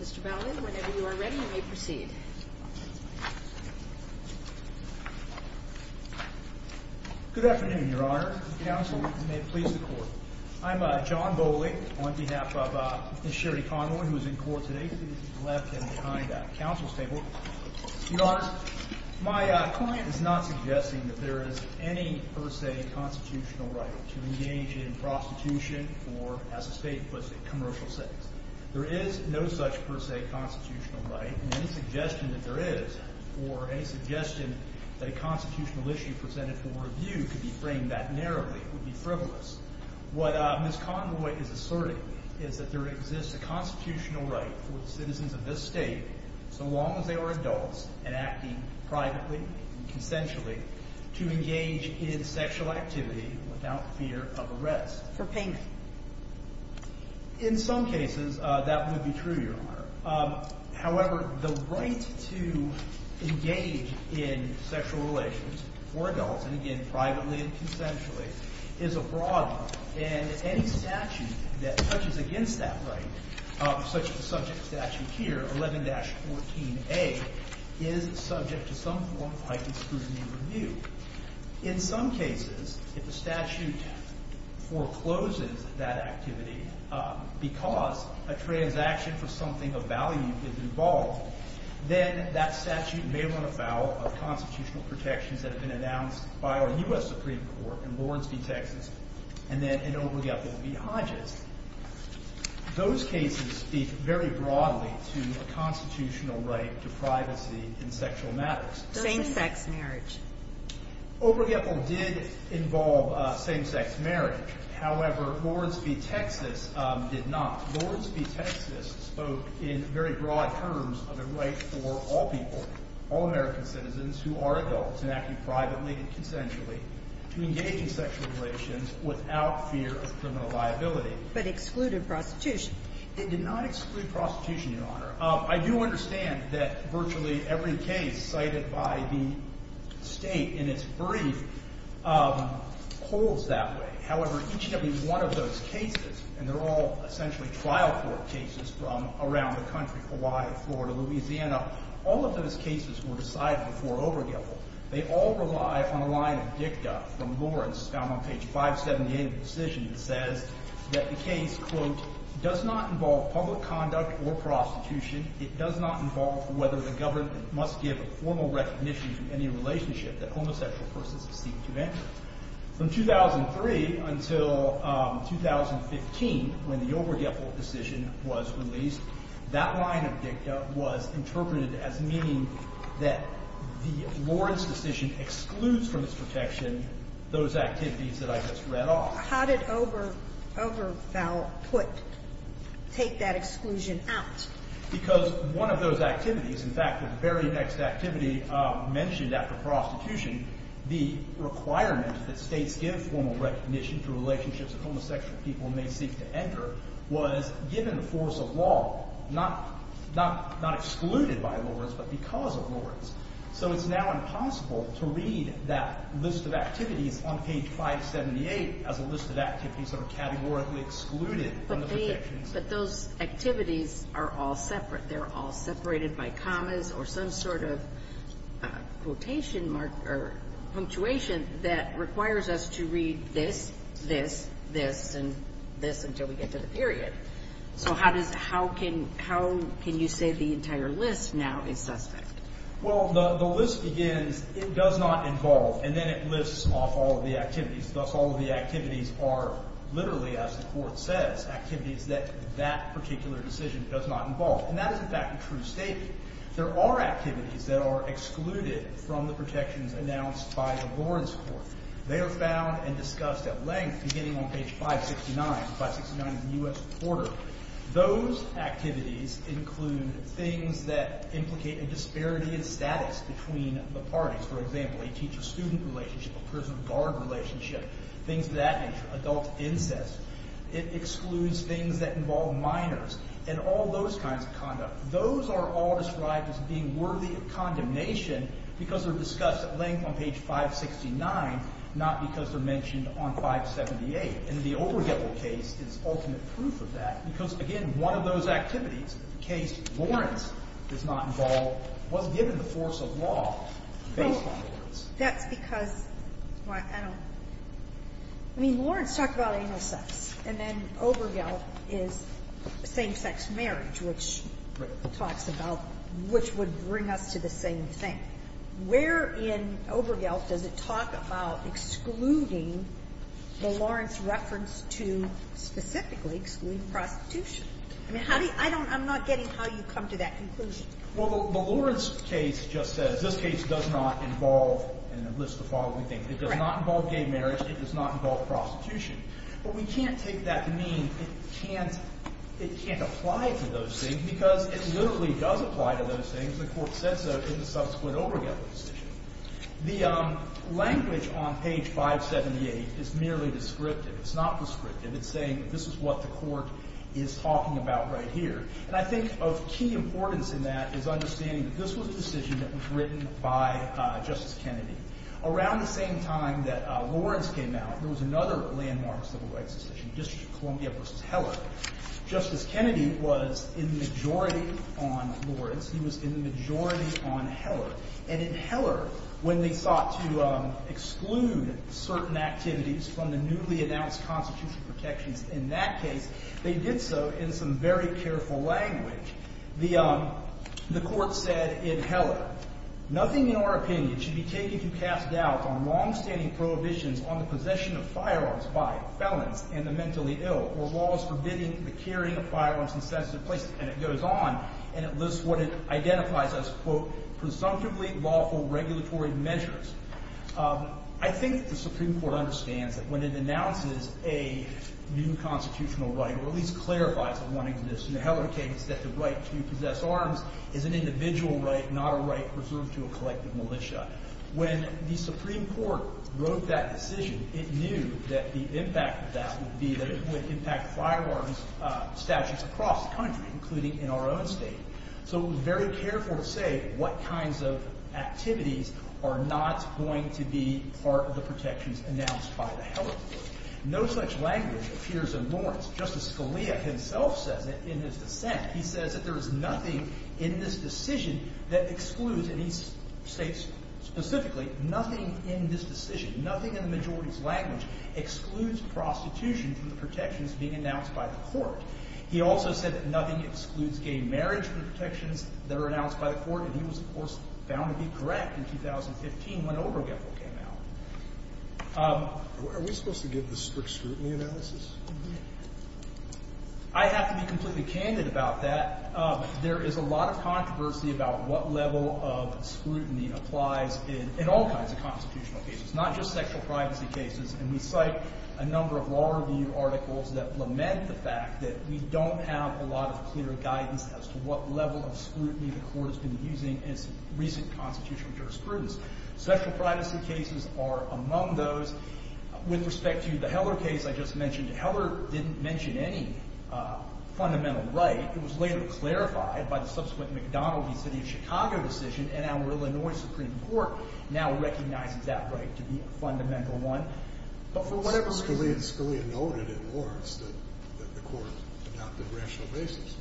Mr. Baldwin, whenever you are ready, you may proceed. Good afternoon, Your Honor. Counsel, you may please the court. I'm John Bowling on behalf of Ms. Sherri Conroy, who is in court today. She's left and behind the counsel's table. Your Honor, my client is not suggesting that there is any per se constitutional right to engage in prostitution or, as the state puts it, commercial sex. There is no such per se constitutional right, and any suggestion that there is or any suggestion that a constitutional issue presented for review could be framed that narrowly. It would be frivolous. What Ms. Conroy is asserting is that there exists a constitutional right for the citizens of this state, so long as they are adults and acting privately and consensually, to engage in sexual activity without fear of arrest. For payment. In some cases, that would be true, Your Honor. However, the right to engage in sexual relations for adults, and again, privately and consensually, is a broad one. And any statute that touches against that right, such as the subject statute here, 11-14a, is subject to some form of heightened scrutiny review. In some cases, if a statute forecloses that activity because a transaction for something of value is involved, then that statute may run afoul of constitutional protections that have been announced by our U.S. Supreme Court in Borenstein, Texas, and then in Obergefell v. Hodges. Those cases speak very broadly to a constitutional right to privacy in sexual matters. Same-sex marriage. Obergefell did involve same-sex marriage. However, Borenstein, Texas, did not. Borenstein, Texas, spoke in very broad terms of a right for all people, all American citizens who are adults and acting privately and consensually, to engage in sexual relations without fear of criminal liability. But excluded prostitution. It did not exclude prostitution, Your Honor. I do understand that virtually every case cited by the State in its brief holds that way. However, each and every one of those cases, and they're all essentially trial court cases from around the country, Hawaii, Florida, Louisiana, all of those cases were decided before Obergefell. They all rely on a line of dicta from Lawrence found on page 578 of the decision that says that the case, quote, does not involve public conduct or prostitution. It does not involve whether the government must give a formal recognition of any relationship that homosexual persons seek to end. From 2003 until 2015, when the Obergefell decision was released, that line of dicta was interpreted as meaning that the Lawrence decision excludes from its protection those activities that I just read off. How did Obergefell take that exclusion out? Because one of those activities, in fact, the very next activity mentioned after prostitution, the requirement that states give formal recognition to relationships that homosexual people may seek to enter, was given the force of law, not excluded by Lawrence, but because of Lawrence. So it's now impossible to read that list of activities on page 578 as a list of activities that are categorically excluded from the protection. But those activities are all separate. They're all separated by commas or some sort of quotation mark or punctuation that requires us to read this, this, this, and this until we get to the period. So how can you say the entire list now is suspect? Well, the list begins, it does not involve. And then it lifts off all of the activities. Thus, all of the activities are literally, as the Court says, activities that that particular decision does not involve. And that is, in fact, a true statement. There are activities that are excluded from the protections announced by the Lawrence Court. They are found and discussed at length beginning on page 569, 569 of the U.S. Corporate. Those activities include things that implicate a disparity in status between the parties. For example, a teacher-student relationship, a prison-guard relationship, things of that nature, adult incest. It excludes things that involve minors and all those kinds of conduct. Those are all described as being worthy of condemnation because they're discussed at length on page 569, not because they're mentioned on 578. And the Obergell case is ultimate proof of that because, again, one of those activities, the case Lawrence does not involve, was given the force of law based on Lawrence. That's because, I don't, I mean, Lawrence talked about anal sex, and then Obergell is same-sex marriage, which talks about which would bring us to the same thing. Where in Obergell does it talk about excluding the Lawrence reference to specifically excluding prostitution? I mean, how do you, I don't, I'm not getting how you come to that conclusion. Well, the Lawrence case just says, this case does not involve, and it lists the following things. It does not involve gay marriage. It does not involve prostitution. But we can't take that to mean it can't, it can't apply to those things because it literally does apply to those things. And the Court said so in the subsequent Obergell decision. The language on page 578 is merely descriptive. It's not descriptive. It's saying that this is what the Court is talking about right here. And I think of key importance in that is understanding that this was a decision that was written by Justice Kennedy. Around the same time that Lawrence came out, there was another landmark civil rights decision, District of Columbia v. Heller. Justice Kennedy was in the majority on Lawrence. He was in the majority on Heller. And in Heller, when they sought to exclude certain activities from the newly announced constitutional protections in that case, they did so in some very careful language. The Court said in Heller, nothing in our opinion should be taken to cast doubt on longstanding prohibitions on the possession of firearms by felons and the mentally ill or laws forbidding the carrying of firearms in sensitive places. And it goes on, and it lists what it identifies as, quote, presumptively lawful regulatory measures. I think the Supreme Court understands that when it announces a new constitutional right, or at least clarifies that one exists in the Heller case, that the right to possess arms is an individual right, not a right reserved to a collective militia. When the Supreme Court wrote that decision, it knew that the impact of that would be that it would impact firearms statutes across the country, including in our own state. So it was very careful to say what kinds of activities are not going to be part of the protections announced by the Heller case. No such language appears in Lawrence. Justice Scalia himself says it in his dissent. He says that there is nothing in this decision that excludes, and he states specifically, nothing in this decision, nothing in the majority's language excludes prostitution from the protections being announced by the Court. He also said that nothing excludes gay marriage from the protections that are announced by the Court, and he was, of course, found to be correct in 2015 when Obergefell came out. Are we supposed to give the strict scrutiny analysis? I have to be completely candid about that. There is a lot of controversy about what level of scrutiny applies in all kinds of constitutional cases, not just sexual privacy cases. And we cite a number of law review articles that lament the fact that we don't have a lot of clear guidance as to what level of scrutiny the Court has been using in its recent constitutional jurisprudence. Sexual privacy cases are among those. With respect to the Heller case I just mentioned, Heller didn't mention any fundamental right. It was later clarified by the subsequent McDonald v. City of Chicago decision, and our Illinois Supreme Court now recognizes that right to be a fundamental one. But for whatever reason— Scalia noted in Lawrence that the Court adopted rational basis.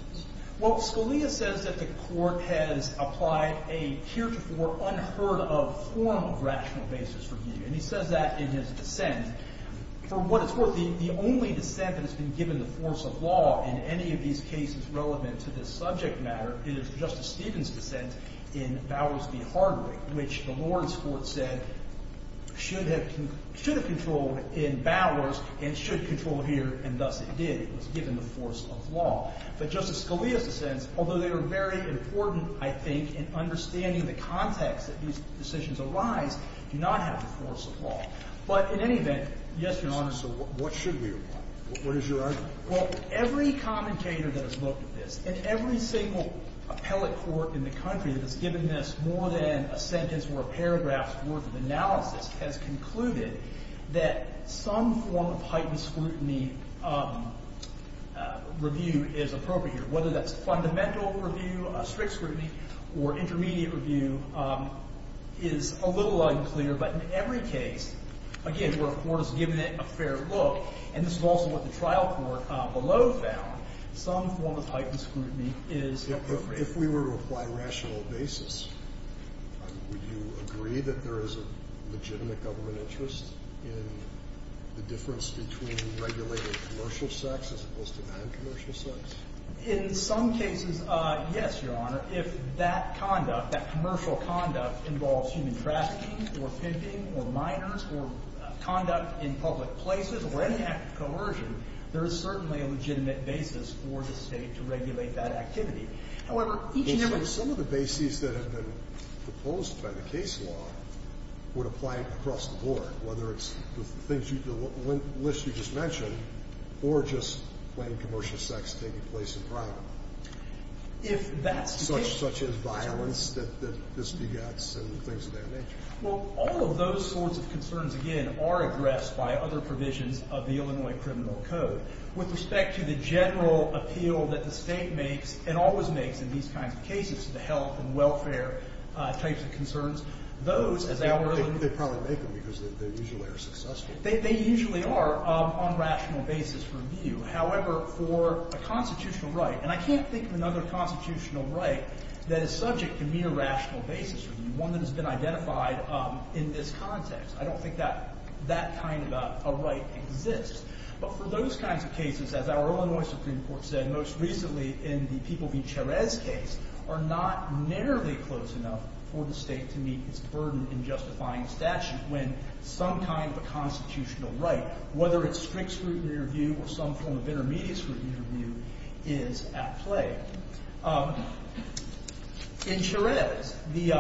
Well, Scalia says that the Court has applied a heretofore unheard-of form of rational basis review, and he says that in his dissent. For what it's worth, the only dissent that has been given the force of law in any of these cases relevant to this subject matter is Justice Stevens' dissent in Bowers v. Hardwick, which the Lawrence Court said should have controlled in Bowers and should control here, and thus it did. But Justice Scalia's dissents, although they are very important, I think, in understanding the context that these decisions arise, do not have the force of law. But in any event, yes, Your Honor— So what should we apply? What is your argument? Well, every commentator that has looked at this and every single appellate court in the country that has given this more than a sentence or a paragraph's worth of analysis has concluded that some form of heightened scrutiny review is appropriate here. Whether that's fundamental review, strict scrutiny, or intermediate review is a little unclear. But in every case, again, where a court has given it a fair look, and this is also what the trial court below found, some form of heightened scrutiny is appropriate. If we were to apply rational basis, would you agree that there is a legitimate government interest in the difference between regulated commercial sex as opposed to non-commercial sex? In some cases, yes, Your Honor. If that conduct, that commercial conduct, involves human trafficking or pimping or minors or conduct in public places or any act of coercion, there is certainly a legitimate basis for the State to regulate that activity. However, each and every— Some of the bases that have been proposed by the case law would apply across the board, whether it's the list you just mentioned or just when commercial sex is taking place in private. If that's the case— Such as violence that this begets and things of that nature. Well, all of those sorts of concerns, again, are addressed by other provisions of the Illinois Criminal Code. With respect to the general appeal that the State makes and always makes in these kinds of cases, the health and welfare types of concerns, those, as I already— They probably make them because they usually are successful. They usually are on rational basis review. However, for a constitutional right, and I can't think of another constitutional right that is subject to mere rational basis review, one that has been identified in this context. I don't think that kind of a right exists. But for those kinds of cases, as our Illinois Supreme Court said most recently in the People v. Cherez case, are not nearly close enough for the State to meet its burden in justifying statute when some kind of a constitutional right, whether it's strict scrutiny review or some form of intermediate scrutiny review, is at play. In Cherez, the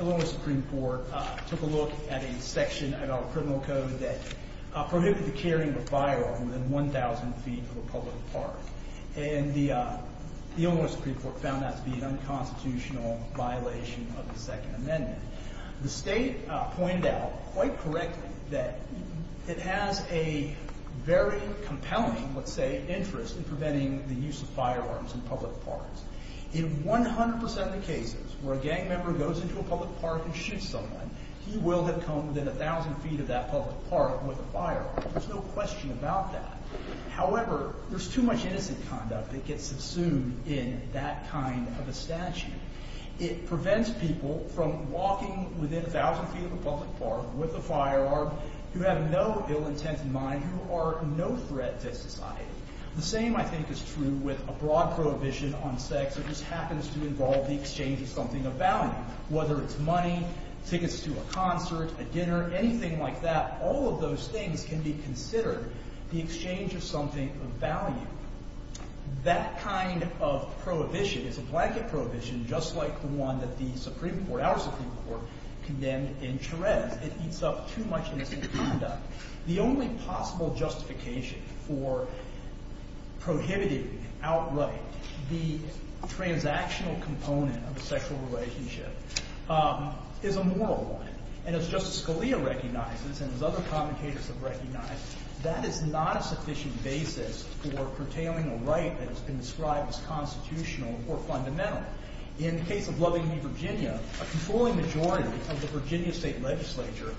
Illinois Supreme Court took a look at a section of our Criminal Code that prohibited the carrying of a firearm within 1,000 feet of a public park. And the Illinois Supreme Court found that to be an unconstitutional violation of the Second Amendment. The State pointed out quite correctly that it has a very compelling, let's say, interest in preventing the use of firearms in public parks. In 100 percent of the cases where a gang member goes into a public park and shoots someone, he will have come within 1,000 feet of that public park with a firearm. There's no question about that. However, there's too much innocent conduct that gets subsumed in that kind of a statute. It prevents people from walking within 1,000 feet of a public park with a firearm who have no ill-intent in mind, who are no threat to society. The same, I think, is true with a broad prohibition on sex that just happens to involve the exchange of something of value, whether it's money, tickets to a concert, a dinner, anything like that. All of those things can be considered the exchange of something of value. That kind of prohibition is a blanket prohibition just like the one that the Supreme Court, our Supreme Court, condemned in Therese. It eats up too much innocent conduct. The only possible justification for prohibiting outright the transactional component of a sexual relationship is a moral one. And as Justice Scalia recognizes and as other commentators have recognized, that is not a sufficient basis for curtailing a right that has been described as constitutional or fundamental. In the case of Loving Me Virginia, a controlling majority of the Virginia state legislature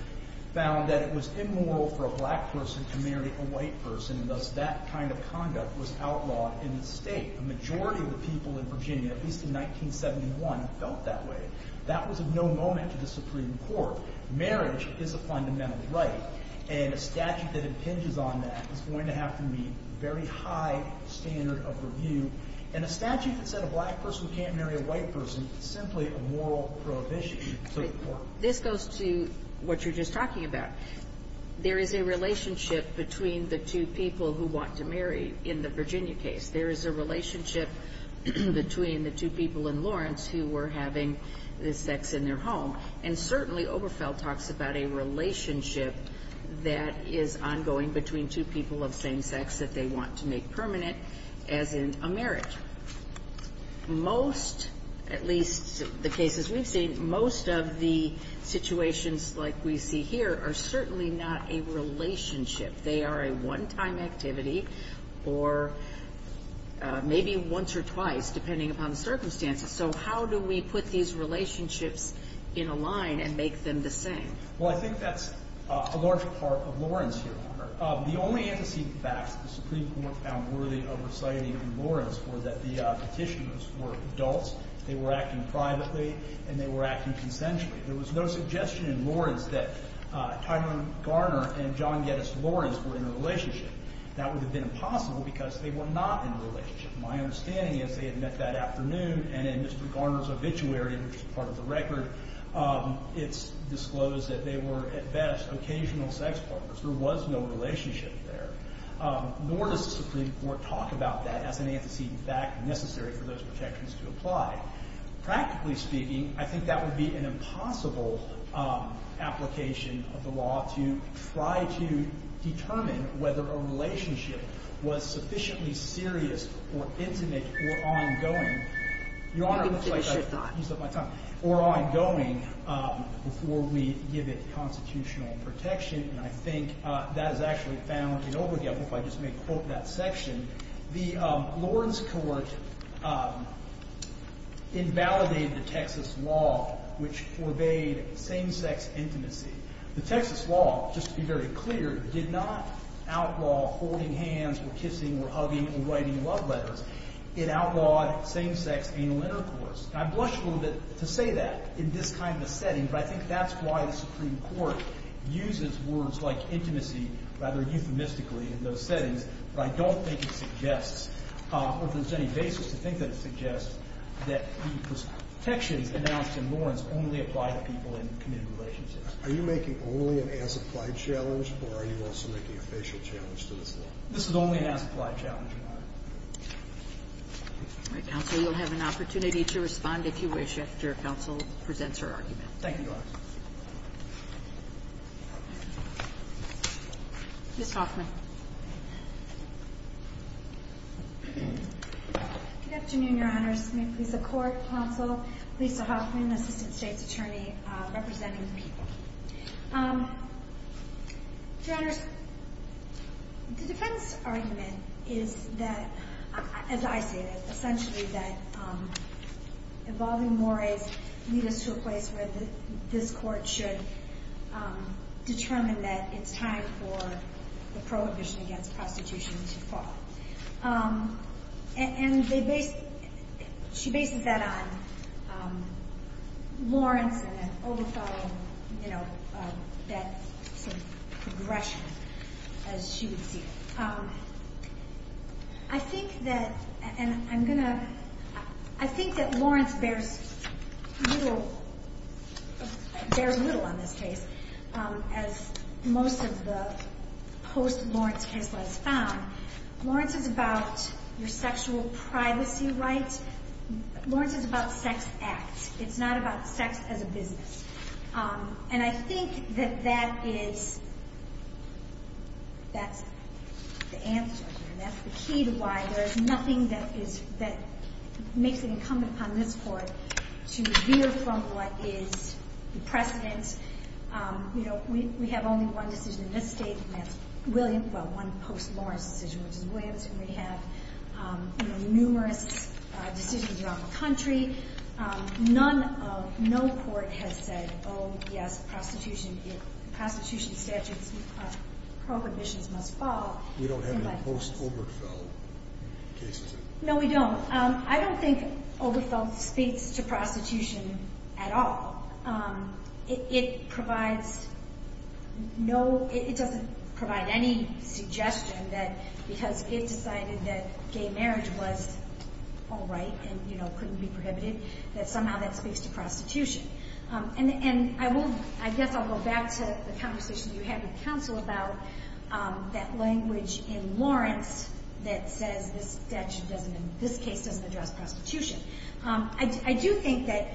found that it was immoral for a black person to marry a white person, and thus that kind of conduct was outlawed in the state. A majority of the people in Virginia, at least in 1971, felt that way. That was of no moment to the Supreme Court. Marriage is a fundamental right, and a statute that impinges on that is going to have to meet a very high standard of review. And a statute that said a black person can't marry a white person is simply a moral prohibition to the court. This goes to what you're just talking about. There is a relationship between the two people who want to marry in the Virginia case. There is a relationship between the two people in Lawrence who were having sex in their home. And certainly Oberfeld talks about a relationship that is ongoing between two people of same sex that they want to make permanent as in a marriage. Most, at least the cases we've seen, most of the situations like we see here are certainly not a relationship. They are a one-time activity or maybe once or twice, depending upon the circumstances. So how do we put these relationships in a line and make them the same? Well, I think that's a large part of Lawrence here, Your Honor. The only antecedent facts the Supreme Court found worthy of reciting in Lawrence were that the petitioners were adults, they were acting privately, and they were acting consensually. There was no suggestion in Lawrence that Tyrone Garner and John Geddes Lawrence were in a relationship. That would have been impossible because they were not in a relationship. My understanding is they had met that afternoon, and in Mr. Garner's obituary, which is part of the record, it's disclosed that they were at best occasional sex partners. There was no relationship there. Nor does the Supreme Court talk about that as an antecedent fact necessary for those protections to apply. Practically speaking, I think that would be an impossible application of the law to try to determine whether a relationship was sufficiently serious or intimate or ongoing. Your Honor, it looks like I've used up my time. I think you should not. Or ongoing before we give it constitutional protection. And I think that is actually found in over the up. If I just may quote that section. The Lawrence court invalidated the Texas law, which forbade same-sex intimacy. The Texas law, just to be very clear, did not outlaw holding hands or kissing or hugging or writing love letters. It outlawed same-sex anal intercourse. And I blush a little bit to say that in this kind of setting, but I think that's why the Supreme Court uses words like intimacy rather euphemistically in those settings. But I don't think it suggests, or if there's any basis to think that it suggests, that the protections announced in Lawrence only apply to people in committed relationships. Are you making only an as-applied challenge, or are you also making a facial challenge to this law? This is only an as-applied challenge, Your Honor. All right. Counsel, you'll have an opportunity to respond if you wish after counsel presents her argument. Thank you, Your Honor. Ms. Hoffman. Good afternoon, Your Honors. May it please the Court, counsel, Lisa Hoffman, Assistant State's Attorney representing the people. Your Honors, the defense argument is that, as I see it, involving mores leads us to a place where this Court should determine that it's time for the prohibition against prostitution to fall. And she bases that on Lawrence and then overthrowing that sort of progression, as she would see it. I think that, and I'm going to, I think that Lawrence bears little, bears little on this case, as most of the post-Lawrence case laws found. Lawrence is about your sexual privacy rights. Lawrence is about sex acts. It's not about sex as a business. And I think that that is, that's the answer. And that's the key to why there is nothing that is, that makes it incumbent upon this Court to veer from what is the precedent. You know, we have only one decision in this State, and that's Williams, well, one post-Lawrence decision, which is Williams. And we have, you know, numerous decisions throughout the country. None of, no Court has said, oh, yes, prostitution, prostitution statutes, prohibitions must fall. We don't have any post-Oberfeld cases. No, we don't. I don't think Oberfeld speaks to prostitution at all. It provides no, it doesn't provide any suggestion that because it decided that gay marriage was all right and, you know, couldn't be prohibited, that somehow that speaks to prostitution. And I will, I guess I'll go back to the conversation you had with counsel about that language in Lawrence that says this statute doesn't, this case doesn't address prostitution. I do think that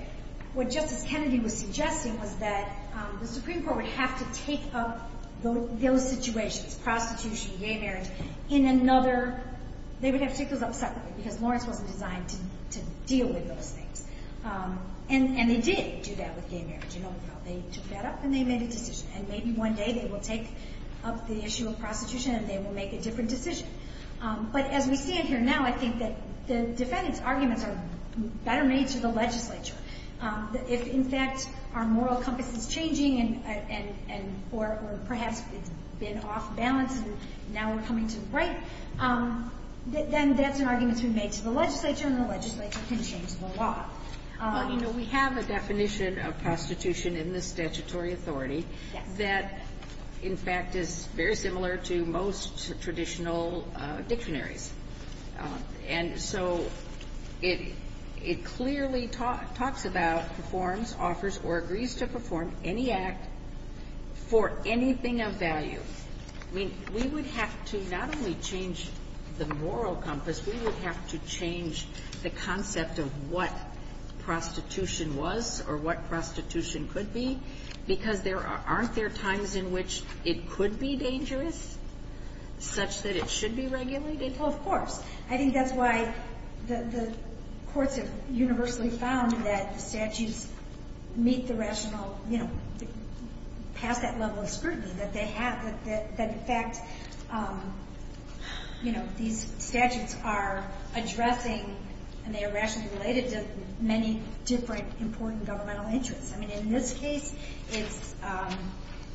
what Justice Kennedy was suggesting was that the Supreme Court would have to take up those situations, prostitution, gay marriage, in another, they would have to take those up separately because Lawrence wasn't designed to deal with those things. And they did do that with gay marriage in Oberfeld. They took that up and they made a decision. And maybe one day they will take up the issue of prostitution and they will make a different decision. But as we stand here now, I think that the defendant's arguments are better made to the legislature. If, in fact, our moral compass is changing and, or perhaps it's been off balance and now we're coming to the right, then that's an argument to be made to the legislature and the legislature can change the law. Well, you know, we have a definition of prostitution in the statutory authority that, in fact, is very similar to most traditional dictionaries. And so it clearly talks about, performs, offers, or agrees to perform any act for anything of value. I mean, we would have to not only change the moral compass, we would have to change the concept of what prostitution was or what prostitution could be because aren't there times in which it could be dangerous, such that it should be regulated? Well, of course. I think that's why the courts have universally found that the statutes meet the rational, you know, pass that level of scrutiny that they have. That, in fact, you know, these statutes are addressing, and they are rationally related to many different important governmental interests. I mean, in this case, it's,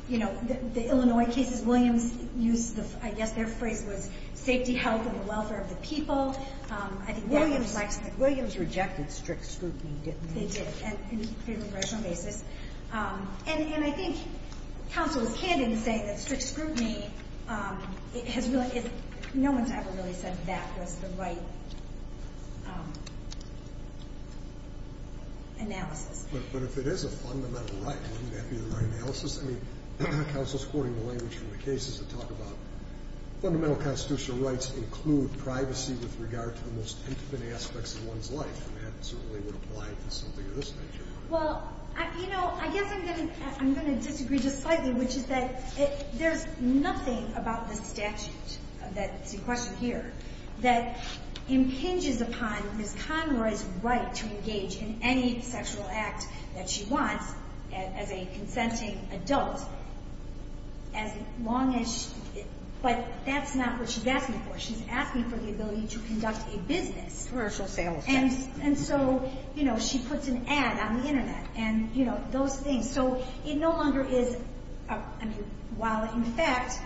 you know, the Illinois cases, Williams used the, I guess their phrase was safety, health, and the welfare of the people. I think that was actually. Williams rejected strict scrutiny, didn't he? They did, and on a rational basis. And I think counsel is candid in saying that strict scrutiny has really, no one's ever really said that was the right analysis. But if it is a fundamental right, wouldn't that be the right analysis? I mean, counsel's quoting the language from the cases that talk about fundamental constitutional rights include privacy with regard to the most infinite aspects of one's life, and that certainly would apply to something of this nature. Well, you know, I guess I'm going to disagree just slightly, which is that there's nothing about this statute that's in question here that impinges upon Ms. Conroy's right to engage in any sexual act that she wants as a consenting adult, as long as, but that's not what she's asking for. She's asking for the ability to conduct a business. Commercial sales. And so, you know, she puts an ad on the Internet and, you know, those things. So it no longer is, I mean, while in fact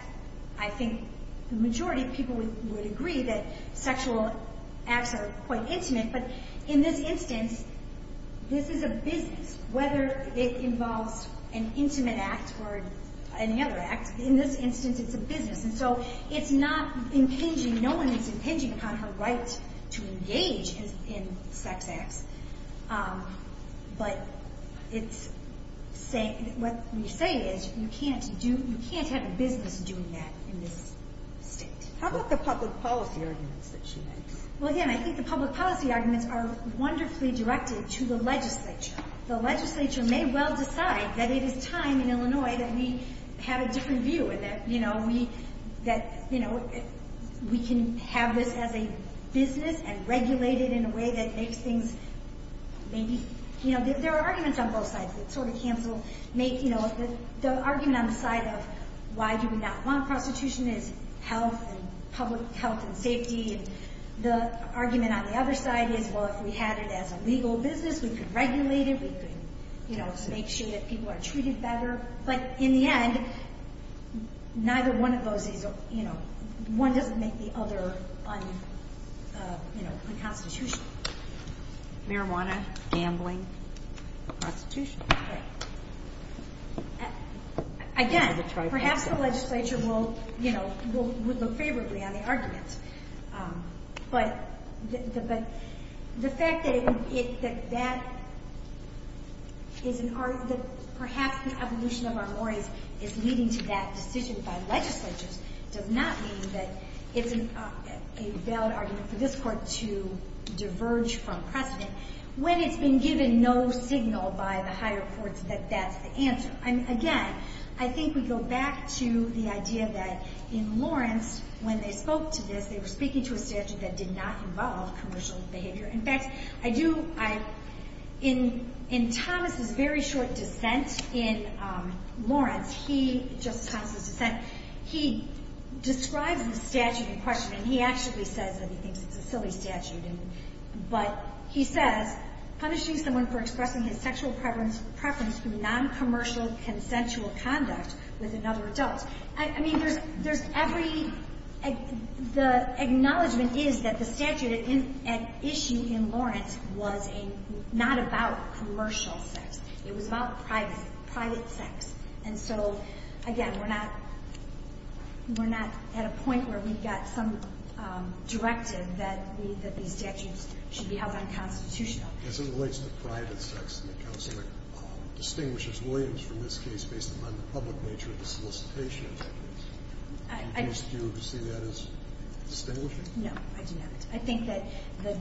I think the majority of people would agree that sexual acts are quite intimate, but in this instance, this is a business. Whether it involves an intimate act or any other act, in this instance it's a business. And so it's not impinging, no one is impinging upon her right to engage in sex acts. But it's saying, what we say is you can't do, you can't have a business doing that in this state. How about the public policy arguments that she makes? Well, again, I think the public policy arguments are wonderfully directed to the legislature. The legislature may well decide that it is time in Illinois that we have a different view and that, you know, we can have this as a business and regulate it in a way that makes things maybe, you know, there are arguments on both sides that sort of cancel. The argument on the side of why do we not want prostitution is health and public health and safety. The argument on the other side is, well, if we had it as a legal business, we could regulate it, we could, you know, make sure that people are treated better. But in the end, neither one of those, you know, one doesn't make the other unconstitutional. Marijuana, gambling, prostitution. Okay. Again, perhaps the legislature will, you know, would look favorably on the argument. But the fact that that is an argument, perhaps the evolution of our worries is leading to that decision by legislatures does not mean that it's a valid argument for this court to diverge from precedent when it's been given no signal by the higher courts that that's the answer. Again, I think we go back to the idea that in Lawrence, when they spoke to this, they were speaking to a statute that did not involve commercial behavior. In fact, I do, I, in Thomas' very short dissent in Lawrence, he, Justice Thomas' dissent, he describes the statute in question and he actually says that he thinks it's a silly statute. But he says, punishing someone for expressing his sexual preference through noncommercial consensual conduct with another adult. I mean, there's every, the acknowledgement is that the statute at issue in Lawrence was not about commercial sex. It was about private sex. And so, again, we're not, we're not at a point where we've got some directive that we, that these statutes should be held unconstitutional. As it relates to private sex and the counsel that distinguishes Williams from this case based upon the public nature of the solicitation, do you see that as distinguishing? No, I do not. I think that the,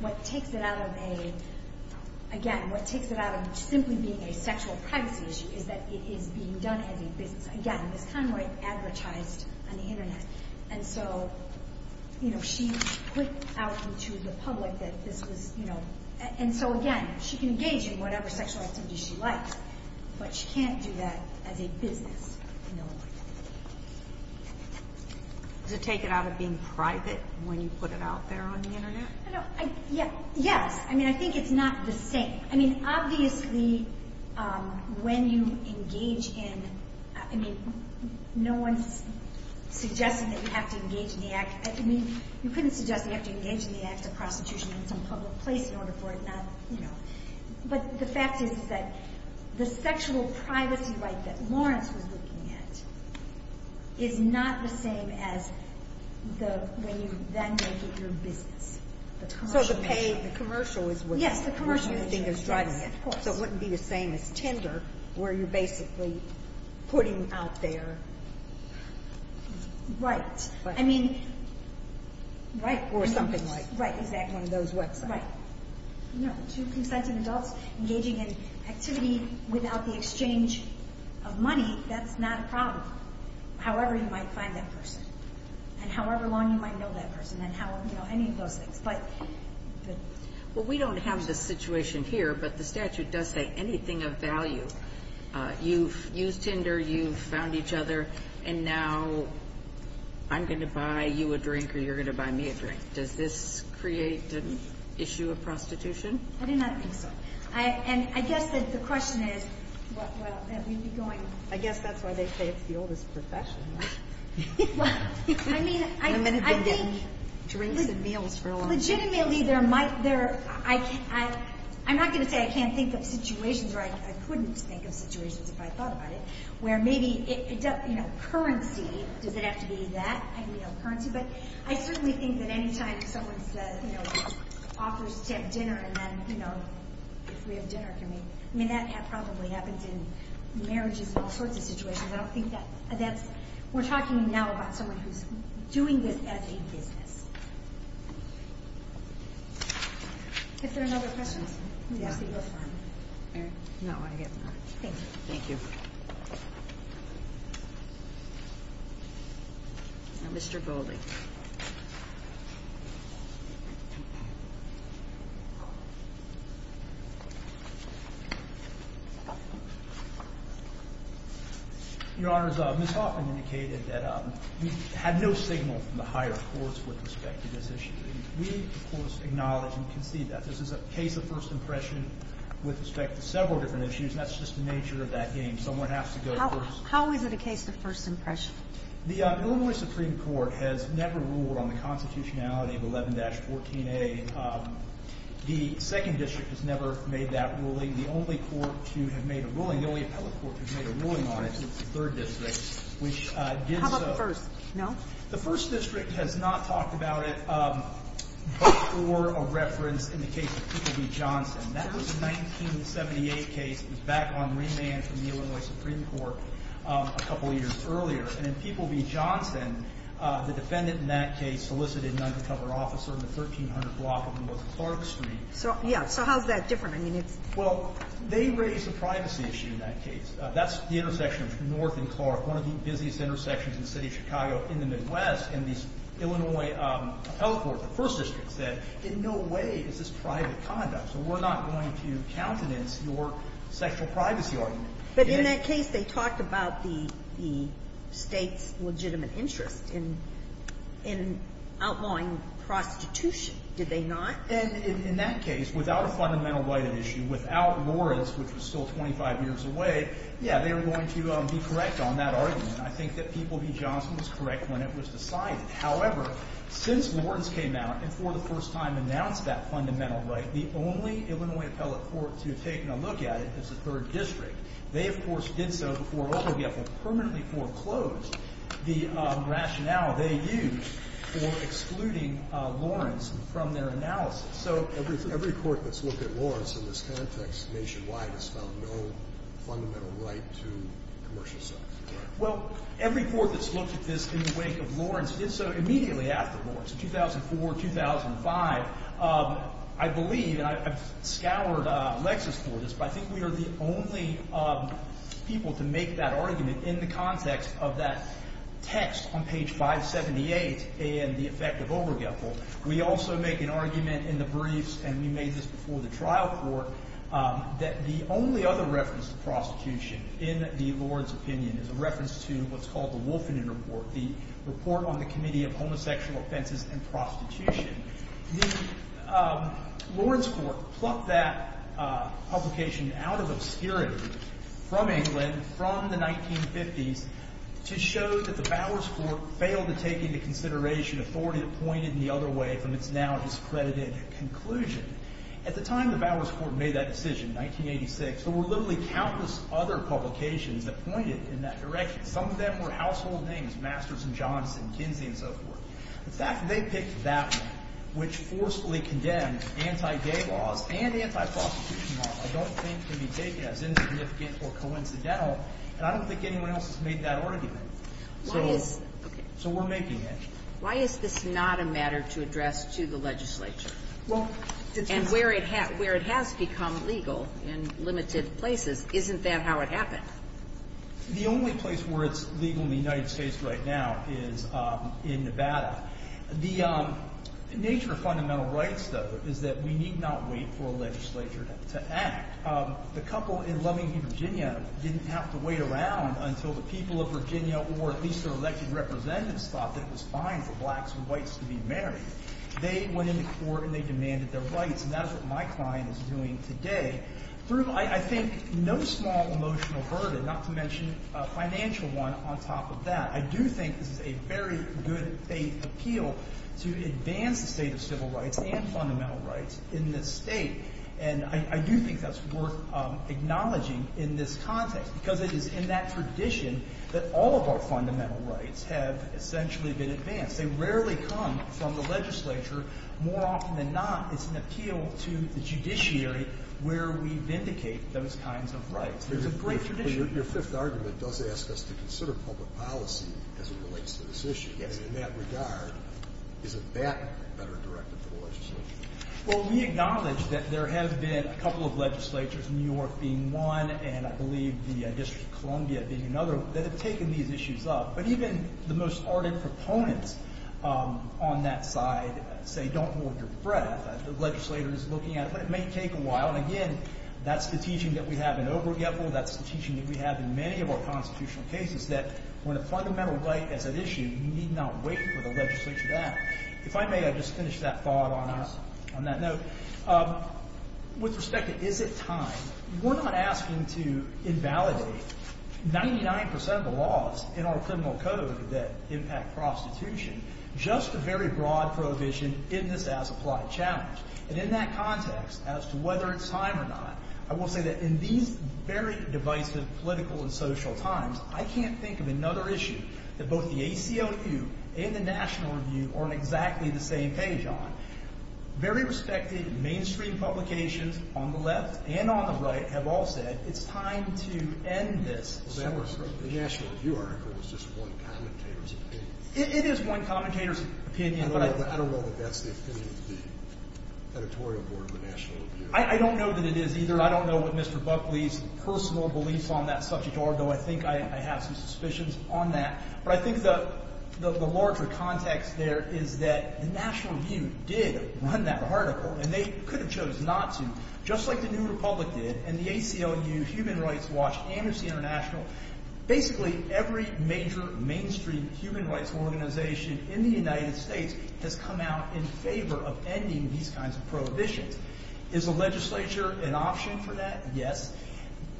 what takes it out of a, again, what takes it out of simply being a sexual privacy issue is that it is being done as a business. Again, it was kind of like advertised on the internet. And so, you know, she put out to the public that this was, you know, and so, again, she can engage in whatever sexual activity she likes. But she can't do that as a business. Does it take it out of being private when you put it out there on the internet? Yes. I mean, I think it's not the same. I mean, obviously, when you engage in, I mean, no one's suggesting that you have to engage in the act. I mean, you couldn't suggest you have to engage in the act of prostitution in some public place in order for it not, you know. But the fact is that the sexual privacy right that Lawrence was looking at is not the same as the, when you then make it your business. So the pay, the commercial is what you think is driving it. Yes, the commercial is what's driving it, of course. So it wouldn't be the same as Tinder, where you're basically putting out there. Right. I mean, right. Or something like. Right, exactly. One of those websites. Right. You know, to consent an adult engaging in activity without the exchange of money, that's not a problem. However, you might find that person. And however long you might know that person. And how, you know, any of those things. But. Well, we don't have the situation here, but the statute does say anything of value. You've used Tinder, you've found each other, and now I'm going to buy you a drink or you're going to buy me a drink. Does this create an issue of prostitution? I do not think so. And I guess that the question is, well, that we'd be going. I guess that's why they say it's the oldest profession. Well, I mean. Women have been getting drinks and meals for a long time. Legitimately, there might, I'm not going to say I can't think of situations, or I couldn't think of situations if I thought about it. Where maybe, you know, currency, does it have to be that? But I certainly think that any time someone says, you know, offers to have dinner, and then, you know, if we have dinner, can we? I mean, that probably happens in marriages and all sorts of situations. I don't think that's. We're talking now about someone who's doing this as a business. If there are no other questions. No, I have none. Thank you. Thank you. Mr. Goldie. Your Honors, Ms. Hoffman indicated that we had no signal from the higher courts with respect to this issue. We, of course, acknowledge and concede that. This is a case of first impression with respect to several different issues, and that's just the nature of that game. Someone has to go first. How is it a case of first impression? The Illinois Supreme Court has never ruled on the constitutionality of 11-14A. The second district has never made that ruling. The only court to have made a ruling, the only appellate court to have made a ruling on it is the third district, which did so. How about the first? No? The first district has not talked about it before a reference in the case of Peter B. Johnson. That was a 1978 case. It was back on remand from the Illinois Supreme Court a couple of years earlier. And in Peter B. Johnson, the defendant in that case solicited an undercover officer in the 1300 block of North Clark Street. Yeah. So how is that different? Well, they raised the privacy issue in that case. That's the intersection between North and Clark, one of the busiest intersections in the city of Chicago in the Midwest. And the Illinois appellate court, the first district, said in no way is this private conduct, so we're not going to countenance your sexual privacy argument. But in that case, they talked about the state's legitimate interest in outlawing prostitution, did they not? And in that case, without a fundamental right of issue, without Lawrence, which was still 25 years away, yeah, they were going to be correct on that argument. I think that Peter B. Johnson was correct when it was decided. However, since Lawrence came out and for the first time announced that fundamental right, the only Illinois appellate court to have taken a look at it is the third district. They, of course, did so before Obergefell permanently foreclosed the rationale they used for excluding Lawrence from their analysis. So every court that's looked at Lawrence in this context nationwide has found no fundamental right to commercial sex, correct? Well, every court that's looked at this in the wake of Lawrence did so immediately after Lawrence, 2004, 2005. I believe, and I've scoured Lexis for this, but I think we are the only people to make that argument in the context of that text on page 578 and the effect of Obergefell. We also make an argument in the briefs, and we made this before the trial court, that the only other reference to prostitution in the Lawrence opinion is a reference to what's called the Wolfenden Report, the report on the Committee of Homosexual Offenses and Prostitution. The Lawrence court plucked that publication out of obscurity from England from the 1950s to show that the Bowers court failed to take into consideration authority appointed in the other way from its now discredited conclusion. At the time the Bowers court made that decision, 1986, there were literally countless other publications that pointed in that direction. Some of them were household names, Masters and Johnson, Kinsey, and so forth. The fact that they picked that one, which forcefully condemned anti-gay laws and anti-prostitution laws, I don't think can be taken as insignificant or coincidental, and I don't think anyone else has made that argument. So we're making it. Why is this not a matter to address to the legislature? And where it has become legal in limited places, isn't that how it happened? The only place where it's legal in the United States right now is in Nevada. The nature of fundamental rights, though, is that we need not wait for a legislature to act. The couple in Lovington, Virginia didn't have to wait around until the people of Virginia, or at least their elected representatives, thought that it was fine for blacks and whites to be married. They went into court and they demanded their rights, and that is what my client is doing today. Through, I think, no small emotional burden, not to mention a financial one on top of that, I do think this is a very good appeal to advance the state of civil rights and fundamental rights in this state. And I do think that's worth acknowledging in this context because it is in that tradition that all of our fundamental rights have essentially been advanced. They rarely come from the legislature. More often than not, it's an appeal to the judiciary where we vindicate those kinds of rights. It's a great tradition. Your fifth argument does ask us to consider public policy as it relates to this issue. And in that regard, isn't that better directed to the legislature? Well, we acknowledge that there have been a couple of legislatures, New York being one and I believe the District of Columbia being another, that have taken these issues up. But even the most ardent proponents on that side say don't hold your breath. The legislator is looking at it. But it may take a while. And, again, that's the teaching that we have in Obergefell. That's the teaching that we have in many of our constitutional cases, that when a fundamental right is at issue, you need not wait for the legislature to act. If I may, I'd just finish that thought on that note. With respect to is it time, we're not asking to invalidate 99% of the laws in our criminal code that impact prostitution. Just a very broad prohibition in this as-applied challenge. And in that context, as to whether it's time or not, I will say that in these very divisive political and social times, I can't think of another issue that both the ACLU and the National Review are on exactly the same page on. Very respected mainstream publications on the left and on the right have all said it's time to end this. The National Review article was just one commentator's opinion. It is one commentator's opinion. I don't know that that's the opinion of the editorial board of the National Review. I don't know that it is either. I don't know what Mr. Buckley's personal beliefs on that subject are, though I think I have some suspicions on that. But I think the larger context there is that the National Review did run that article, and they could have chose not to, just like the New Republic did and the ACLU, Human Rights Watch, Amnesty International. Basically, every major mainstream human rights organization in the United States has come out in favor of ending these kinds of prohibitions. Is the legislature an option for that? Yes.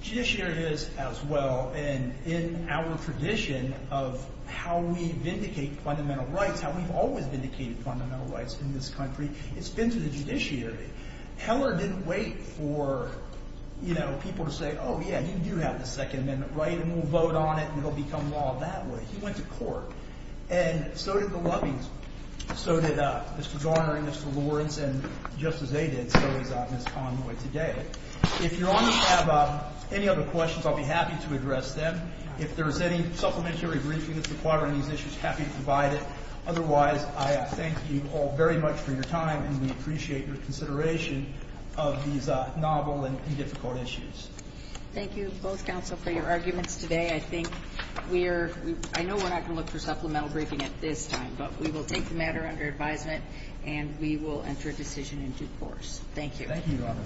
Judiciary is as well, and in our tradition of how we vindicate fundamental rights, how we've always vindicated fundamental rights in this country, it's been through the judiciary. Heller didn't wait for people to say, oh, yeah, you do have the Second Amendment right, and we'll vote on it, and it'll become law that way. He went to court, and so did the Lovings. So did Mr. Garner and Mr. Lawrence, and just as they did, so is Ms. Conway today. If Your Honor have any other questions, I'll be happy to address them. If there's any supplementary briefing that's required on these issues, happy to provide it. Otherwise, I thank you all very much for your time, and we appreciate your consideration of these novel and difficult issues. Thank you, both counsel, for your arguments today. I think we're – I know we're not going to look for supplemental briefing at this time, but we will take the matter under advisement, and we will enter a decision in due course. Thank you. Thank you, Your Honor.